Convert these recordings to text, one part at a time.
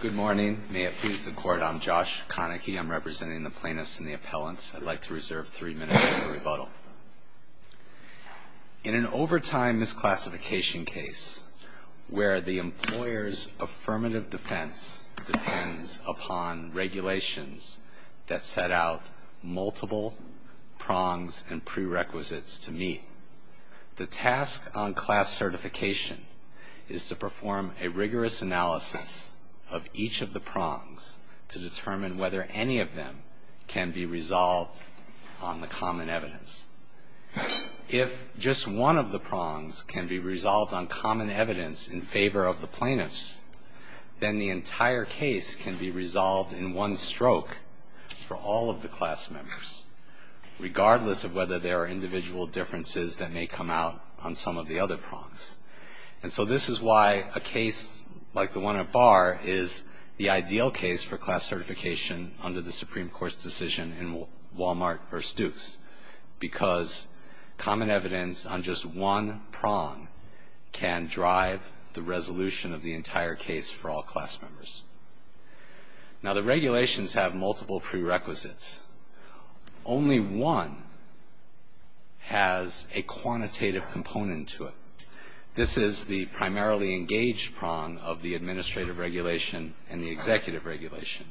Good morning. May it please the Court, I'm Josh Konecki. I'm representing the plaintiffs and the appellants. I'd like to reserve three minutes for rebuttal. In an overtime misclassification case where the employer's affirmative defense depends upon regulations that set out multiple prongs and prerequisites to determine whether any of them can be resolved on the common evidence. If just one of the prongs can be resolved on common evidence in favor of the plaintiffs, then the entire case can be resolved in one stroke for all of the class members, regardless of whether there are individual differences that may come out on some of the other prongs. And so this is why a case like the one at Barr is the ideal case for class certification under the Supreme Court's decision in Wal-Mart v. Dukes, because common evidence on just one prong can drive the resolution of the entire case for all class members. Now, the regulations have multiple prerequisites. Only one has a quantitative component to it. This is the primarily engaged prong of the administrative regulation and the executive regulation.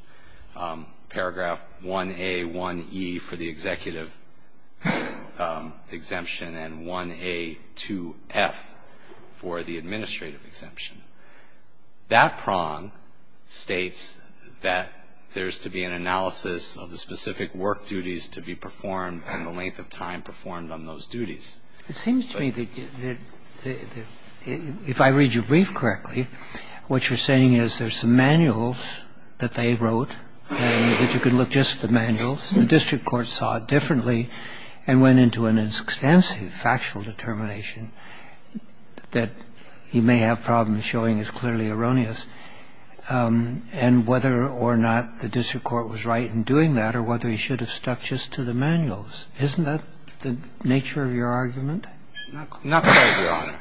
Paragraph 1A1E for the executive exemption and 1A2F for the administrative exemption. That prong states that there's to be an analysis of the specific work duties to be performed and the length of time performed on those duties. It seems to me that if I read your brief correctly, what you're saying is there's some manuals that they wrote, and that you could look just at the manuals. The district court saw it differently and went into an extensive factual determination that you may have problems showing is clearly erroneous, and whether or not the district court was right in doing that or whether he should have stuck just to the manuals. Isn't that the nature of your argument? Not quite, Your Honor.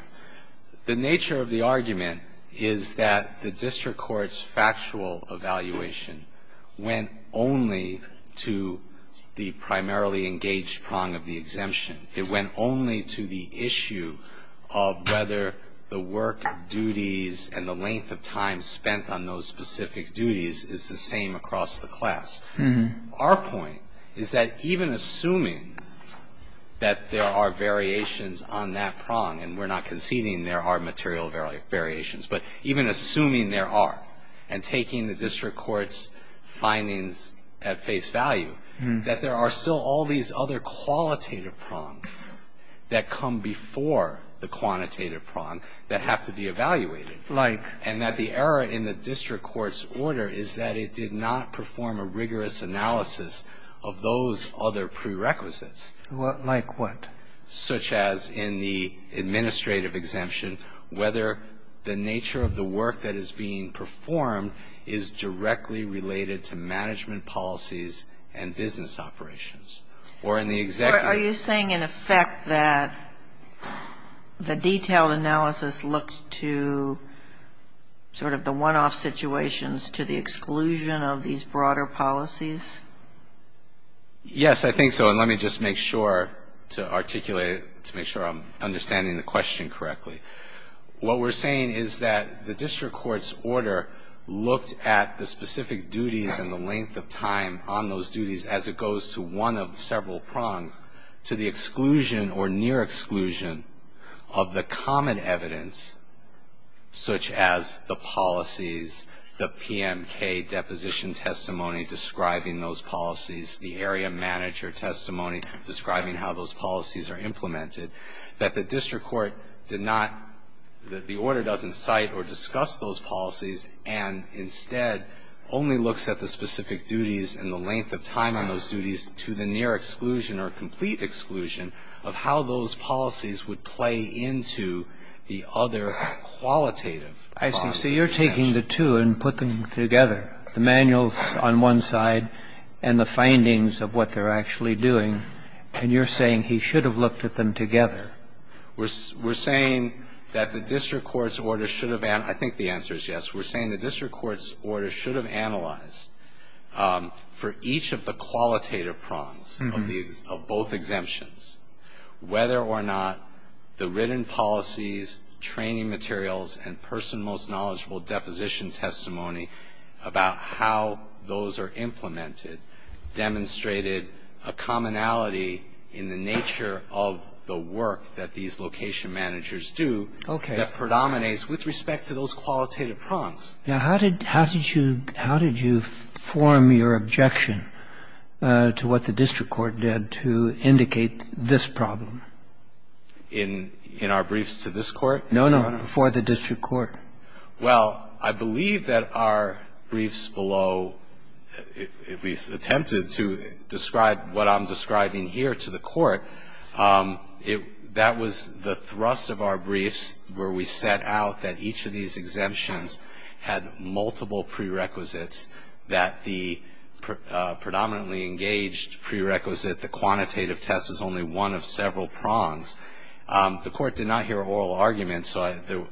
The nature of the argument is that the district court's factual evaluation went only to the primarily engaged prong of the exemption. It went only to the issue of whether the work duties and the length of time spent on those specific duties is the same across the class. Our point is that even assuming that there are variations on that prong, and we're not conceding there are material variations, but even assuming there are, and taking the district court's findings at face value, that there are still all these other qualitative prongs that come before the quantitative prong that have to be evaluated, and that the error in the district court's order is that it did not perform a rigorous analysis of those other prerequisites. Like what? Such as in the administrative exemption, whether the nature of the work that is being performed is directly related to management policies and business operations, or in the executive. So are you saying, in effect, that the detailed analysis looks to sort of the one-off situations to the exclusion of these broader policies? Yes, I think so, and let me just make sure to articulate it, to make sure I'm understanding the question correctly. What we're saying is that the district court's order looked at the specific duties and the length of time on those duties as it goes to one of several prongs to the exclusion or near exclusion of the common evidence, such as the policies, the PMK deposition testimony describing those policies, the area manager testimony describing how those policies are implemented, that the district court did not, that the order doesn't cite or discuss those policies and instead only looks at the specific duties and the length of time on those duties to the near exclusion or complete exclusion of how those policies would play into the other qualitative process. I see. So you're taking the two and putting them together, the manuals on one side and the findings of what they're actually doing, and you're saying he should have looked at them together. We're saying that the district court's order should have, I think the answer is yes, we're saying the district court's order should have analyzed for each of the qualitative prongs of both exemptions whether or not the written policies, training materials and person most knowledgeable deposition testimony about how those are implemented demonstrated a commonality in the nature of the work that these location managers do that predominates with respect to those qualitative prongs. Now, how did you form your objection to what the district court did to indicate this problem? In our briefs to this court? No, no, before the district court. Well, I believe that our briefs below, we attempted to describe what I'm describing here to the court. That was the thrust of our briefs where we set out that each of these exemptions had multiple prerequisites, that the predominantly engaged prerequisite, the quantitative test, is only one of several prongs. The court did not hear oral arguments, so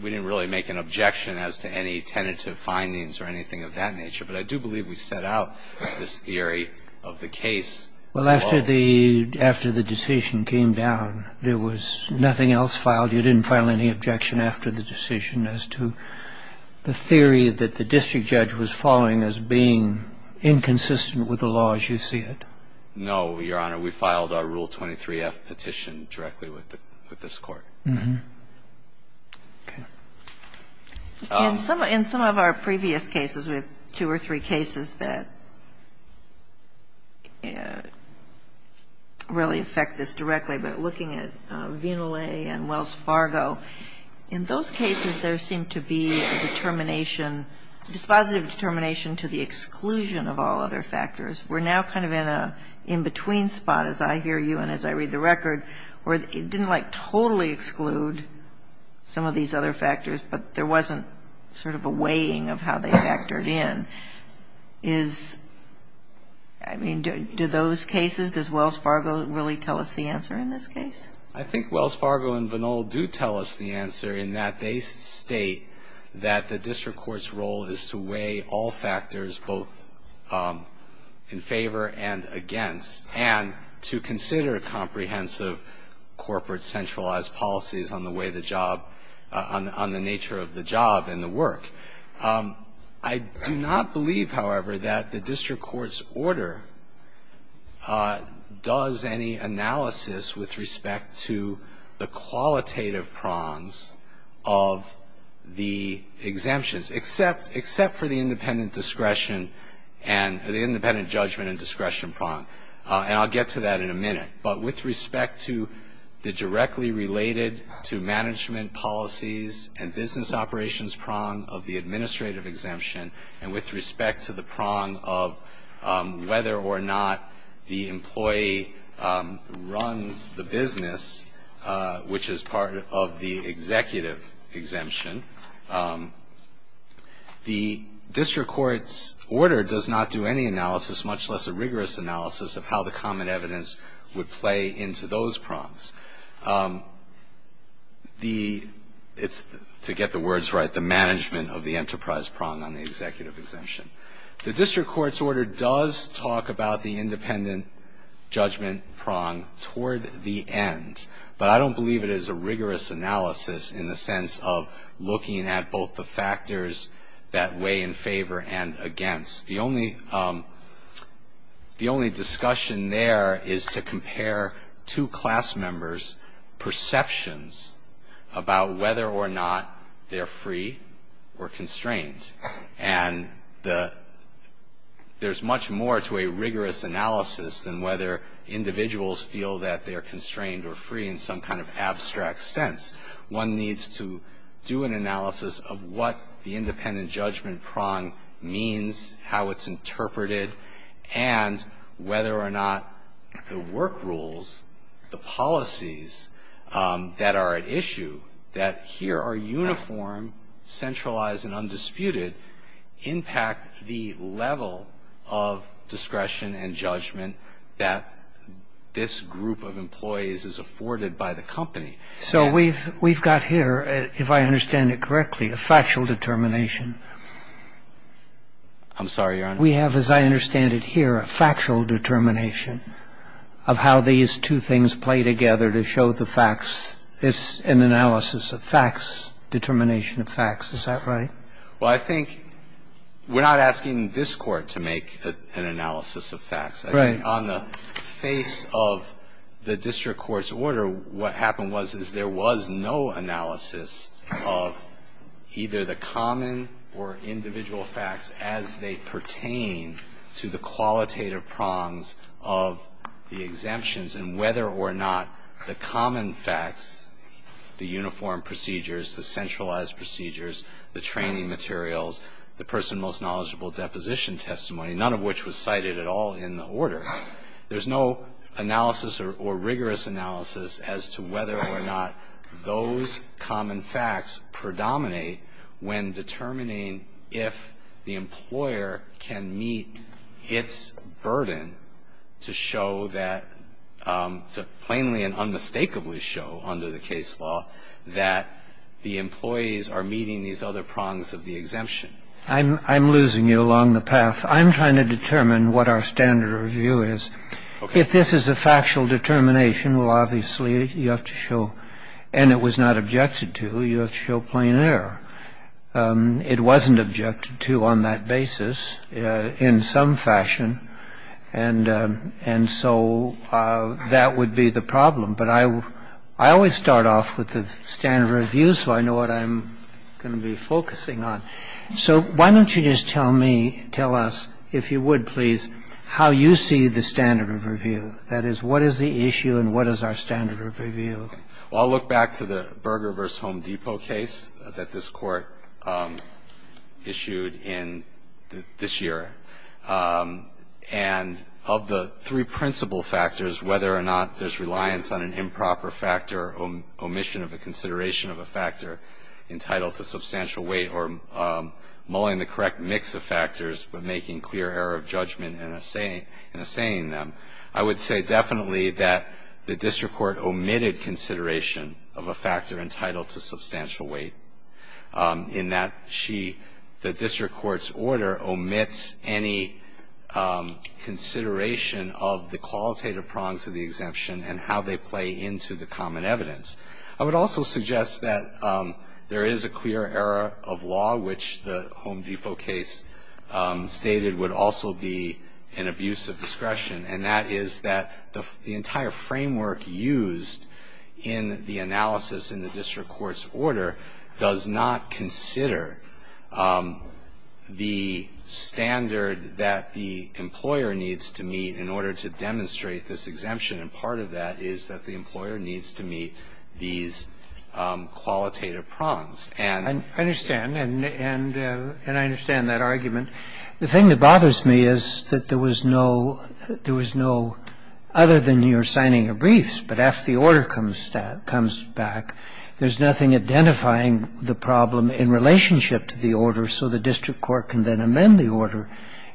we didn't really make an objection as to any tentative findings or anything of that nature. But I do believe we set out this theory of the case. Well, after the decision came down, there was nothing else filed. You didn't file any objection after the decision as to the theory that the district judge was following as being inconsistent with the law as you see it? No, Your Honor. We filed our Rule 23-F petition directly with this court. Okay. In some of our previous cases, we have two or three cases that really affect this directly, but looking at Vinalet and Wells Fargo, in those cases, there seemed to be a determination, dispositive determination to the exclusion of all other factors. We're now kind of in a in-between spot, as I hear you and as I read the record, where it didn't like totally exclude some of these other factors, but there wasn't sort of a weighing of how they factored in. Is, I mean, do those cases, does Wells Fargo really tell us the answer in this case? I think Wells Fargo and Vinalet do tell us the answer in that they state that the district court's role is to weigh all factors, both in favor and against, and to consider comprehensive corporate centralized policies on the way the job, on the nature of the job and the work. I do not believe, however, that the district court's order does any analysis with respect to the qualitative prongs of the exemptions, except for the independent discretion and the independent judgment and discretion prong, and I'll get to that in a minute. But with respect to the directly related to management policies and business operations prong of the administrative exemption and with respect to the prong of whether or not the employee runs the business, which is part of the executive exemption, the district court's order does not do any analysis, much less a rigorous analysis of how the common evidence would play into those prongs. The, it's, to get the words right, the management of the enterprise prong on the executive exemption. The district court's order does talk about the independent judgment prong toward the end, but I don't believe it is a rigorous analysis in the sense of looking at both the factors that weigh in favor and against. The only discussion there is to compare two class members' perceptions about whether or not they're free or constrained. And the, there's much more to a rigorous analysis than whether individuals feel that they're constrained or free in some kind of abstract sense. One needs to do an analysis of what the independent judgment prong means, how it's interpreted, and whether or not the work rules, the policies that are at issue, that here are uniform, centralized, and undisputed, impact the level of discretion and judgment that this group of employees is afforded by the company. So we've got here, if I understand it correctly, a factual determination. I'm sorry, Your Honor? We have, as I understand it here, a factual determination of how these two things play together to show the facts. It's an analysis of facts, determination of facts. Is that right? Well, I think we're not asking this Court to make an analysis of facts. Right. I think on the face of the district court's order, what happened was, is there was no analysis of either the common or individual facts as they pertain to the qualitative prongs of the exemptions. And whether or not the common facts, the uniform procedures, the centralized procedures, the training materials, the person most knowledgeable deposition testimony, none of which was cited at all in the order, there's no analysis or rigorous analysis as to whether or not those common facts predominate when determining if the employer can meet its burden to show that, to plainly and unmistakably show under the case law that the employees are meeting these other prongs of the exemption. I'm losing you along the path. I'm trying to determine what our standard of view is. Okay. If this is a factual determination, well, obviously you have to show, and it was not objected to, you have to show plain error. It wasn't objected to on that basis in some fashion. And so that would be the problem. But I always start off with the standard of review so I know what I'm going to be focusing on. So why don't you just tell me, tell us, if you would, please, how you see the standard of review, that is, what is the issue and what is our standard of review? Well, I'll look back to the Berger v. Home Depot case that this Court issued in this year. And of the three principal factors, whether or not there's reliance on an improper factor, omission of a consideration of a factor entitled to substantial weight or mulling the correct mix of factors but making clear error of judgment in assaying them, I would say definitely that the district court omitted consideration of a factor entitled to substantial weight in that she, the district court's order, omits any consideration of the qualitative prongs of the exemption and how they play into the common evidence. I would also suggest that there is a clear error of law, which the Home Depot case stated would also be an abuse of discretion, and that is that the entire framework used in the analysis in the district court's order does not consider the standard that the employer needs to meet in order to demonstrate this exemption. And part of that is that the employer needs to meet these qualitative prongs. And I understand. And I understand that argument. The thing that bothers me is that there was no other than you're signing your briefs, but after the order comes back, there's nothing identifying the problem in relationship to the order, so the district court can then amend the order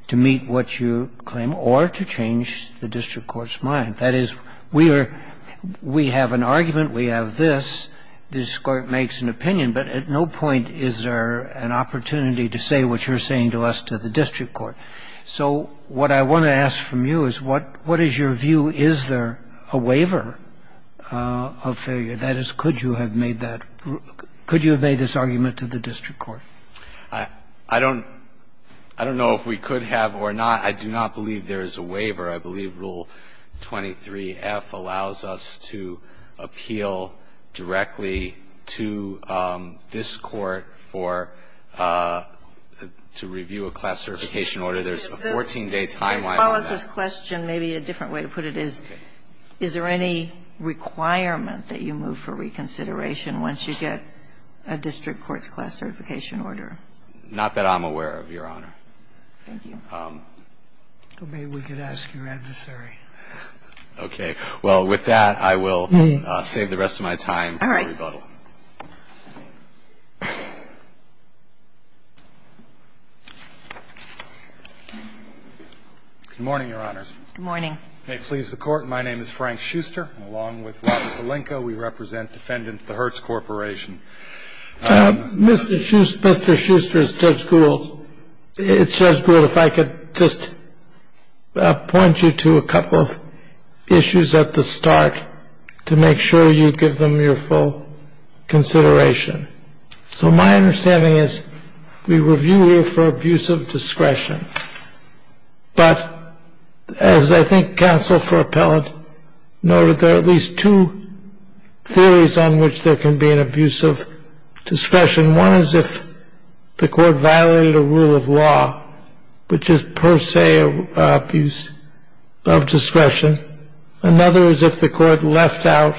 to meet what you claim or to change the district court's mind. That is, we are we have an argument, we have this, this Court makes an opinion, but at no point is there an opportunity to say what you're saying to us to the district court. So what I want to ask from you is what is your view? Is there a waiver of failure? That is, could you have made that – could you have made this argument to the district court? I don't know if we could have or not. I do not believe there is a waiver. I believe Rule 23F allows us to appeal directly to this Court for – to review a class certification order. There's a 14-day timeline on that. If you follow this question, maybe a different way to put it is, is there any requirement that you move for reconsideration once you get a district court's class certification order? Not that I'm aware of, Your Honor. Thank you. Maybe we can ask your adversary? Okay. Well, I will save the rest of my time for rebuttal. All right. Good morning, Your Honors. Good morning. May it please the Court, my name is Frank Schuster. Along with Roberts Paulenko we represent defendant the Hertz Corporation. Mr. Schuster, it's Judge Gould, if I could just point you to a couple of issues at the start to make sure you give them your full consideration. So my understanding is we review here for abuse of discretion. But as I think counsel for appellant noted, there are at least two theories on which there can be an abuse of discretion. One is if the court violated a rule of law, which is per se an abuse of discretion. Another is if the court left out,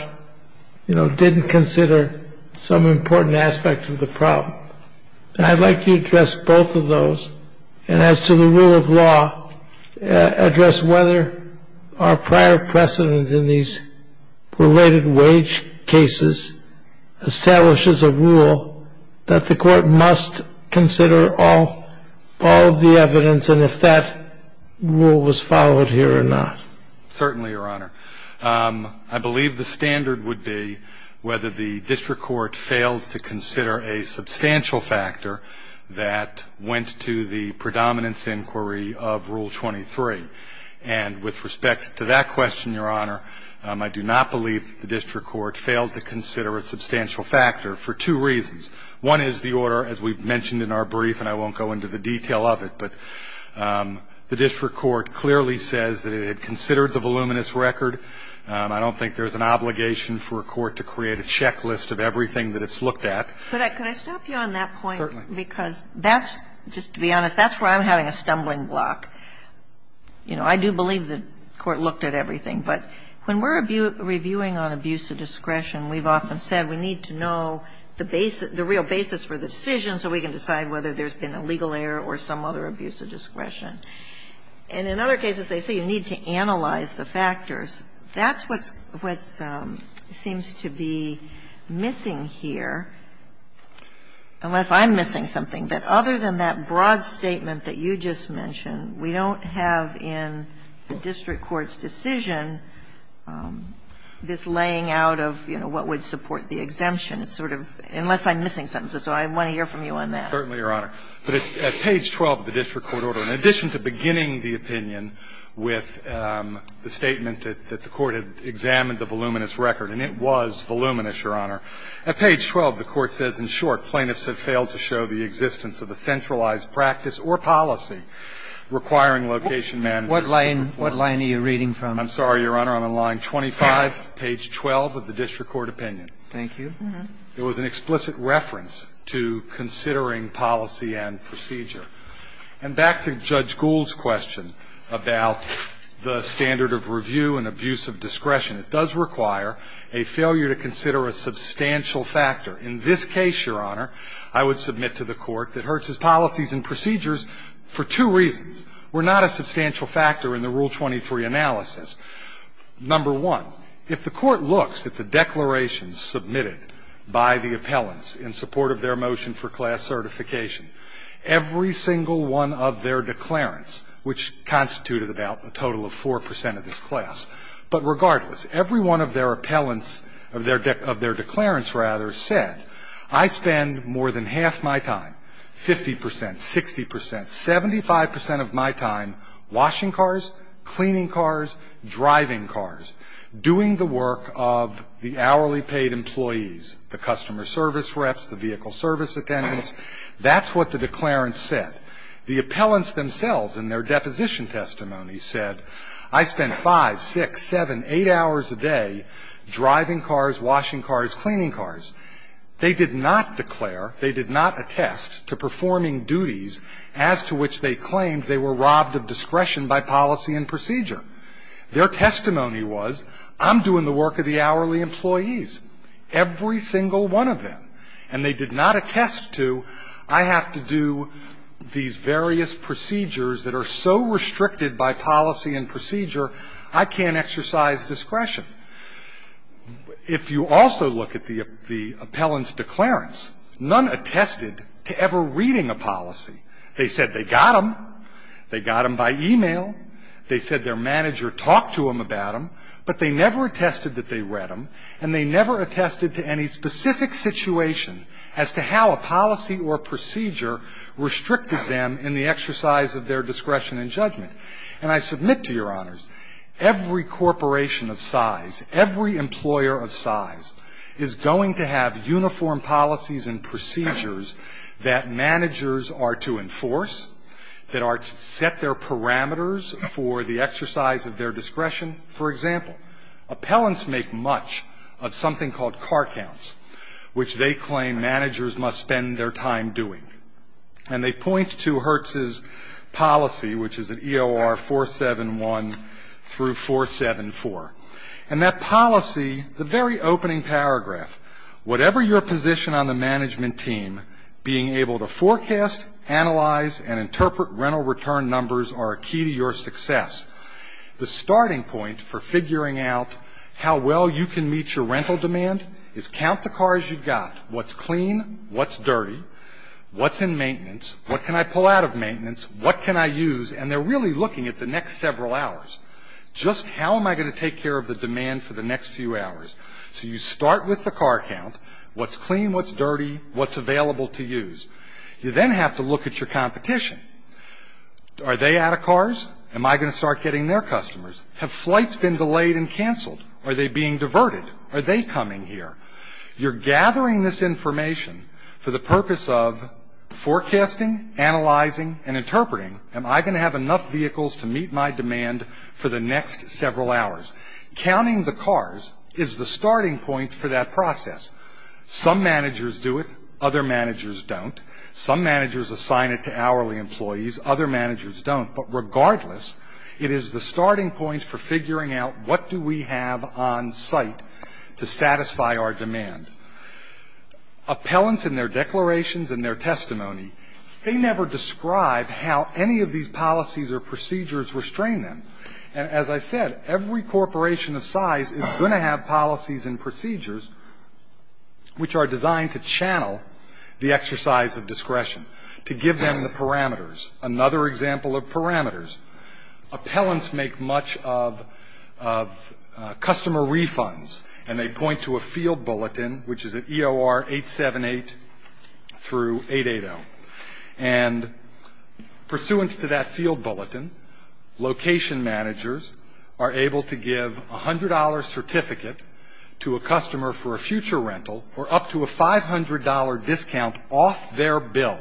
you know, didn't consider some important aspect of the problem. And I'd like you to address both of those. And as to the rule of law, address whether our prior precedent in these related wage cases establishes a rule that the court must consider all of the evidence and if that rule was followed here or not. Certainly, Your Honor. I believe the standard would be whether the district court failed to consider a substantial factor that went to the predominance inquiry of Rule 23. And with respect to that question, Your Honor, I do not believe the district court failed to consider a substantial factor for two reasons. One is the order, as we've mentioned in our brief, and I won't go into the detail of it. But the district court clearly says that it had considered the voluminous record. I don't think there's an obligation for a court to create a checklist of everything that it's looked at. But could I stop you on that point? Certainly. Because that's, just to be honest, that's where I'm having a stumbling block. You know, I do believe the court looked at everything. But when we're reviewing on abuse of discretion, we've often said we need to know the real basis for the decision so we can decide whether there's been a legal error or some other abuse of discretion. And in other cases, they say you need to analyze the factors. That's what's seems to be missing here, unless I'm missing something, that other than that broad statement that you just mentioned, we don't have in the district court's decision this laying out of, you know, what would support the exemption, sort of, unless I'm missing something. So I want to hear from you on that. Certainly, Your Honor. But at page 12 of the district court order, in addition to beginning the opinion with the statement that the court had examined the voluminous record, and it was voluminous, Your Honor, at page 12, the court says, in short, plaintiffs have failed to show the existence of a centralized practice or policy requiring location management. What line are you reading from? I'm sorry, Your Honor, I'm on line 25, page 12 of the district court opinion. Thank you. It was an explicit reference to considering policy and procedure. And back to Judge Gould's question about the standard of review and abuse of discretion. It does require a failure to consider a substantial factor. In this case, Your Honor, I would submit to the court that Hertz's policies and procedures, for two reasons, were not a substantial factor in the Rule 23 analysis. Number one, if the court looks at the declarations submitted by the appellants in support of their motion for class certification, every single one of their declarants, which constituted about a total of 4 percent of this class, but regardless, every one of their appellants, of their declarants, rather, said, I spend more than half my time, 50 percent, 60 percent, 75 percent of my time, washing cars, cleaning cars, driving cars, doing the work of the hourly paid employees, the customer service reps, the vehicle service attendants. That's what the declarants said. The appellants themselves, in their deposition testimony, said, I spend 5, 6, 7, 8 hours a day driving cars, washing cars, cleaning cars. They did not declare, they did not attest to performing duties as to which they claimed they were robbed of discretion by policy and procedure. Their testimony was, I'm doing the work of the hourly employees, every single one of them, and they did not attest to, I have to do these various procedures that are so restricted by policy and procedure, I can't exercise discretion. If you also look at the appellant's declarants, none attested to ever reading a policy. They said they got them. They got them by e-mail. They said their manager talked to them about them, but they never attested that they read them, and they never attested to any specific situation as to how a policy or procedure restricted them in the exercise of their discretion and judgment. And I submit to Your Honors, every corporation of size, every employer of size is going to have uniform policies and procedures that managers are to enforce, that are to set their parameters for the exercise of their discretion. For example, appellants make much of something called car counts, which they claim managers must spend their time doing. And they point to Hertz's policy, which is at EOR 471 through 474. And that policy, the very opening paragraph, whatever your position on the management team, being able to forecast, analyze, and interpret rental return numbers are a key to your success. The starting point for figuring out how well you can meet your rental demand is count the cars you've got, what's clean, what's dirty, what's in maintenance, what can I pull out of maintenance, what can I use, and they're really looking at the next several hours. Just how am I going to take care of the demand for the next few hours? So you start with the car count, what's clean, what's dirty, what's available to use. You then have to look at your competition. Are they out of cars? Am I going to start getting their customers? Have flights been delayed and canceled? Are they being diverted? Are they coming here? You're gathering this information for the purpose of forecasting, analyzing, and interpreting, am I going to have enough vehicles to meet my demand for the next several hours? Counting the cars is the starting point for that process. Some managers do it, other managers don't. Some managers assign it to hourly employees, other managers don't, but regardless, it is the starting point for figuring out what do we have on site to satisfy our demand. Appellants and their declarations and their testimony, they never describe how any of these policies or procedures restrain them. As I said, every corporation of size is going to have policies and procedures which are designed to channel the exercise of discretion, to give them the parameters. Another example of parameters, appellants make much of customer refunds, and they point to a field bulletin, which is at EOR 878 through 880. And pursuant to that field bulletin, location managers are able to give a $100 certificate to a customer for a future rental, or up to a $500 discount off their bill.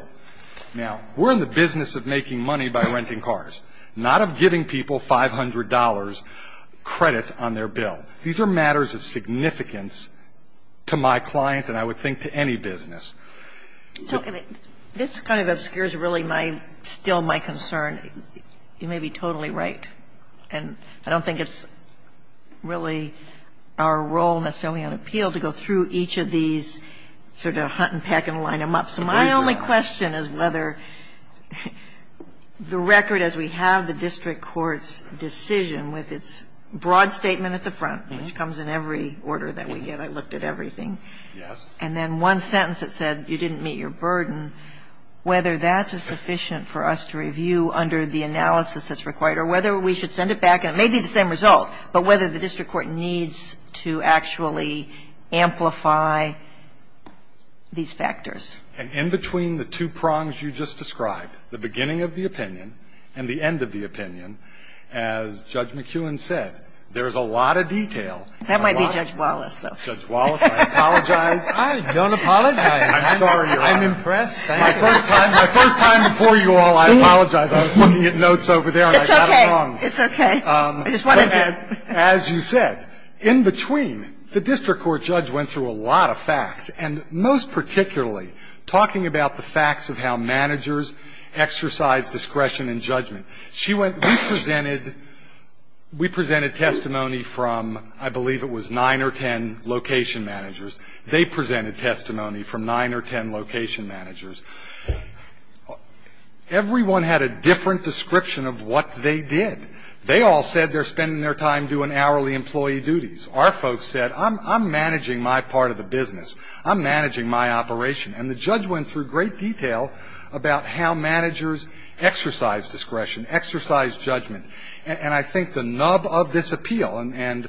Now we're in the business of making money by renting cars, not of giving people $500 credit on their bill. These are matters of significance to my client and I would think to any business. So this kind of obscures really my, still my concern. You may be totally right, and I don't think it's really our role necessarily on appeal to go through each of these sort of hunt and peck and line them up. So my only question is whether the record, as we have the district court's decision with its broad statement at the front, which comes in every order that we get, I looked at everything, and then one sentence that said you didn't meet your burden, whether that's sufficient for us to review under the analysis that's required, or whether we should send it back, and it may be the same result, but whether the district court needs to actually amplify these factors. And in between the two prongs you just described, the beginning of the opinion and the end of the opinion, as Judge McEwen said, there's a lot of detail. That might be Judge Wallace, though. Judge Wallace, I apologize. I don't apologize. I'm sorry, Your Honor. I'm impressed. Thank you. My first time, my first time before you all, I apologize. I was looking at notes over there, and I got it wrong. It's okay. It's okay. I just want to add. As you said, in between, the district court judge went through a lot of facts, and most particularly talking about the facts of how managers exercise discretion and judgment. She went, we presented, we presented testimony from, I believe it was nine or ten location managers. They presented testimony from nine or ten location managers. Everyone had a different description of what they did. They all said they're spending their time doing hourly employee duties. Our folks said, I'm managing my part of the business. I'm managing my operation. And the judge went through great detail about how managers exercise discretion, exercise judgment. And I think the nub of this appeal, and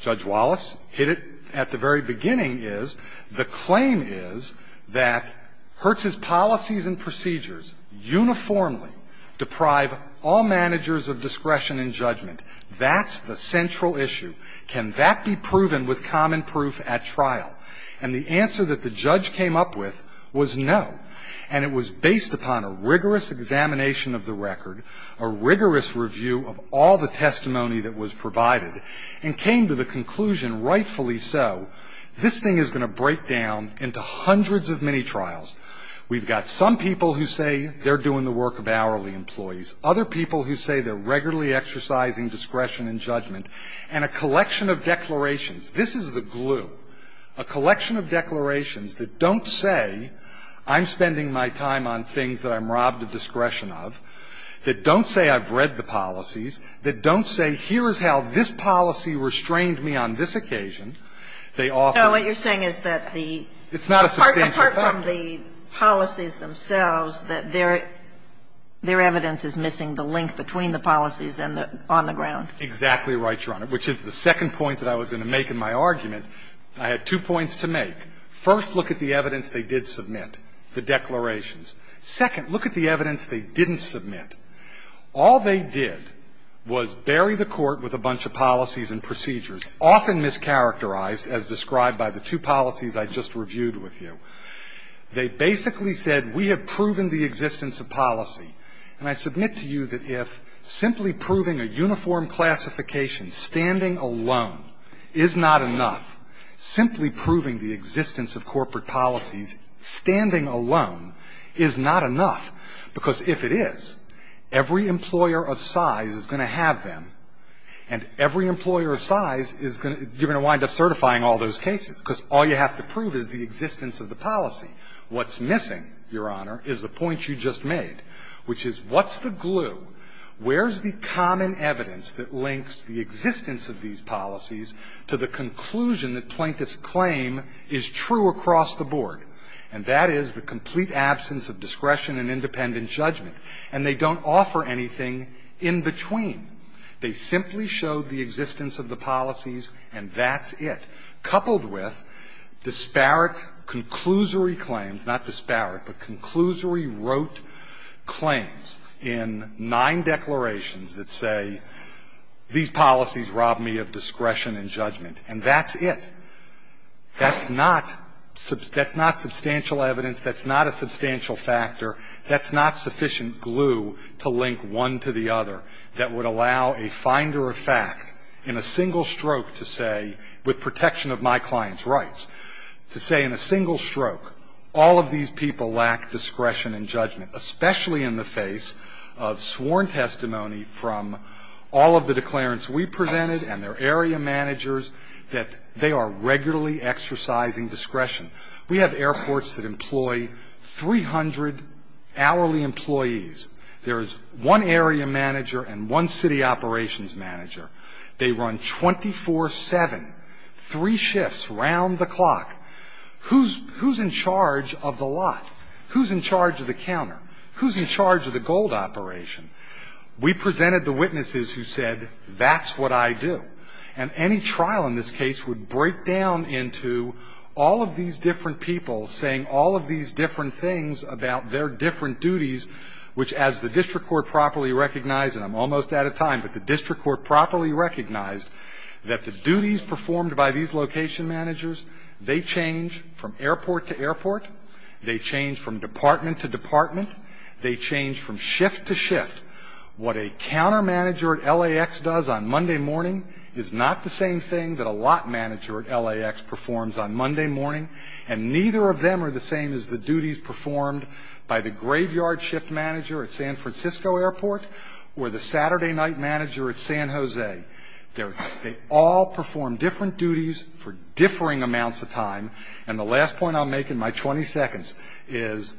Judge Wallace hit it at the very beginning, is the claim is that Hertz's policies and procedures uniformly deprive all managers of discretion and judgment. That's the central issue. Can that be proven with common proof at trial? And the answer that the judge came up with was no, and it was based upon a rigorous examination of the record, a rigorous review of all the testimony that was provided, and came to the conclusion, rightfully so, this thing is going to break down into hundreds of mini-trials. We've got some people who say they're doing the work of hourly employees, other people who say they're regularly exercising discretion and judgment, and a collection of declarations. This is the glue. A collection of declarations that don't say I'm spending my time on things that I'm robbed of discretion of, that don't say I've read the policies, that don't say here is how this policy restrained me on this occasion. They often don't. Kagan. So what you're saying is that the part from the policies themselves, that their evidence is missing the link between the policies on the ground. Exactly right, Your Honor, which is the second point that I was going to make in my argument. I had two points to make. First, look at the evidence they did submit, the declarations. Second, look at the evidence they didn't submit. All they did was bury the court with a bunch of policies and procedures, often mischaracterized as described by the two policies I just reviewed with you. They basically said, we have proven the existence of policy. And I submit to you that if simply proving a uniform classification, standing alone, is not enough, simply proving the existence of corporate policies, standing alone, is not enough. Because if it is, every employer of size is going to have them. And every employer of size is going to, you're going to wind up certifying all those cases. Because all you have to prove is the existence of the policy. What's missing, Your Honor, is the point you just made, which is what's the glue? Where's the common evidence that links the existence of these policies to the conclusion that plaintiff's claim is true across the board? And that is the complete absence of discretion and independent judgment. And they don't offer anything in between. They simply showed the existence of the policies and that's it, coupled with disparate conclusory claims, not disparate, but conclusory wrote claims in nine declarations that say these policies rob me of discretion and judgment, and that's it. That's not substantial evidence. That's not a substantial factor. That's not sufficient glue to link one to the other that would allow a finder of fact in a single stroke to say, with protection of my client's rights, to say in a single stroke, all of these people lack discretion and judgment, especially in the face of sworn testimony from all of the declarants we presented and their area managers, that they are regularly exercising discretion. We have airports that employ 300 hourly employees. There is one area manager and one city operations manager. They run 24-7, three shifts around the clock. Who's in charge of the lot? Who's in charge of the counter? Who's in charge of the gold operation? We presented the witnesses who said, that's what I do. And any trial in this case would break down into all of these different people saying all of these different things about their different duties, which as the district court properly recognized, and I'm almost out of time, but the district court properly recognized that the duties performed by these location managers, they change from airport to airport. They change from department to department. They change from shift to shift. What a counter manager at LAX does on Monday morning is not the same thing that a lot manager at LAX performs on Monday morning, and neither of them are the same as the duties performed by the graveyard shift manager at San Francisco airport or the Saturday night manager at San Jose. They all perform different duties for differing amounts of time. And the last point I'll make in my 20 seconds is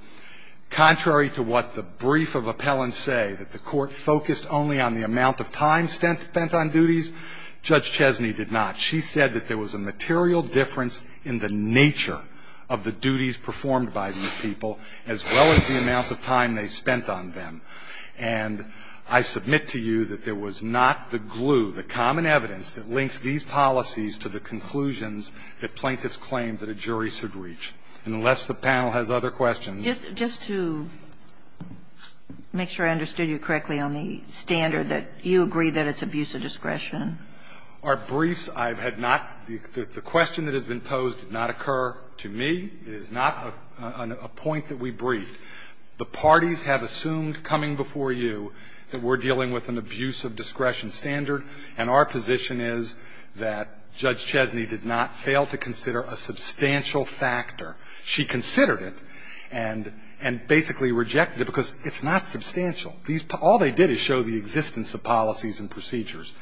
contrary to what the brief of appellants say, that the court focused only on the amount of time spent on duties, Judge Chesney did not. She said that there was a material difference in the nature of the duties performed by these people as well as the amount of time they spent on them. And I submit to you that there was not the glue, the common evidence that links these policies to the conclusions that plaintiffs claimed that a jury should reach. Unless the panel has other questions. Just to make sure I understood you correctly on the standard, that you agree that it's abuse of discretion. Our briefs, I have not the question that has been posed did not occur to me. It is not a point that we briefed. The parties have assumed coming before you that we're dealing with an abuse of discretion standard, and our position is that Judge Chesney did not fail to consider a substantial factor. She considered it and basically rejected it because it's not substantial. All they did is show the existence of policies and procedures.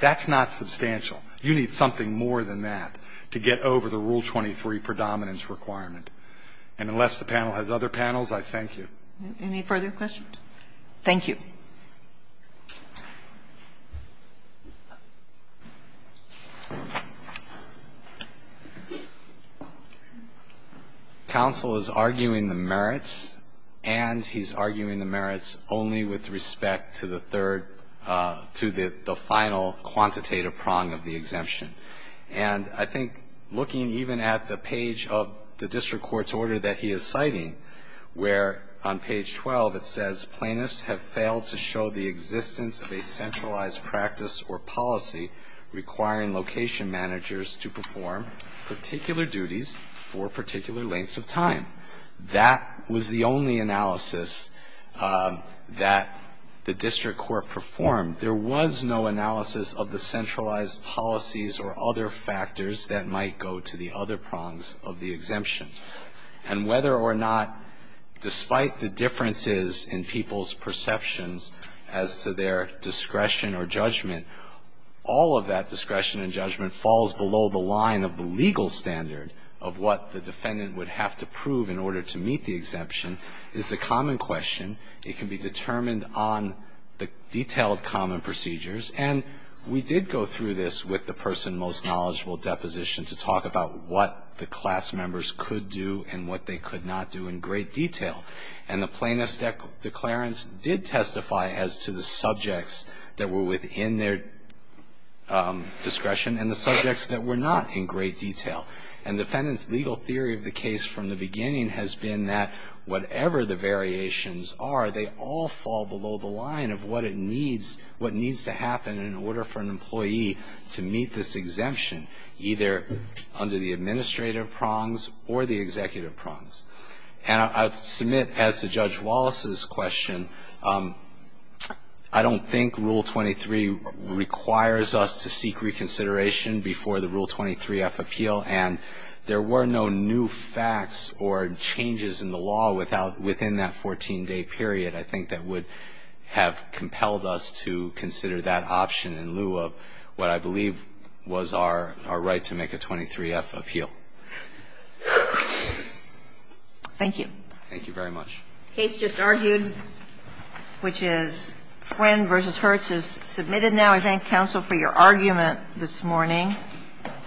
That's not substantial. You need something more than that to get over the Rule 23 predominance requirement. And unless the panel has other panels, I thank you. Any further questions? Thank you. Counsel is arguing the merits, and he's arguing the merits only with respect to the third, to the final quantitative prong of the exemption. And I think looking even at the page of the district court's order that he is citing, where on page 12 it says, Plaintiffs have failed to show the existence of a centralized practice or policy requiring location managers to perform particular duties for particular lengths of time. That was the only analysis that the district court performed. There was no analysis of the centralized policies or other factors that might go to the other prongs of the exemption. And whether or not, despite the differences in people's perceptions as to their discretion or judgment, all of that discretion and judgment falls below the line of the legal standard of what the defendant would have to prove in order to meet the exemption is a common question. It can be determined on the detailed common procedures. And we did go through this with the person most knowledgeable deposition to talk about what the class members could do and what they could not do in great detail. And the plaintiff's declarants did testify as to the subjects that were within their discretion and the subjects that were not in great detail. And defendant's legal theory of the case from the beginning has been that whatever the variations are, they all fall below the line of what it needs, what needs to happen in order for an employee to meet this exemption, either under the administrative prongs or the executive prongs. And I submit, as to Judge Wallace's question, I don't think Rule 23 requires us to seek reconsideration before the Rule 23F appeal. And there were no new facts or changes in the law within that 14-day period, I think, that would have compelled us to consider that option in lieu of what I believe was our right to make a 23F appeal. Thank you. Thank you very much. The case just argued, which is Friend v. Hertz, is submitted now. I thank counsel for your argument this morning.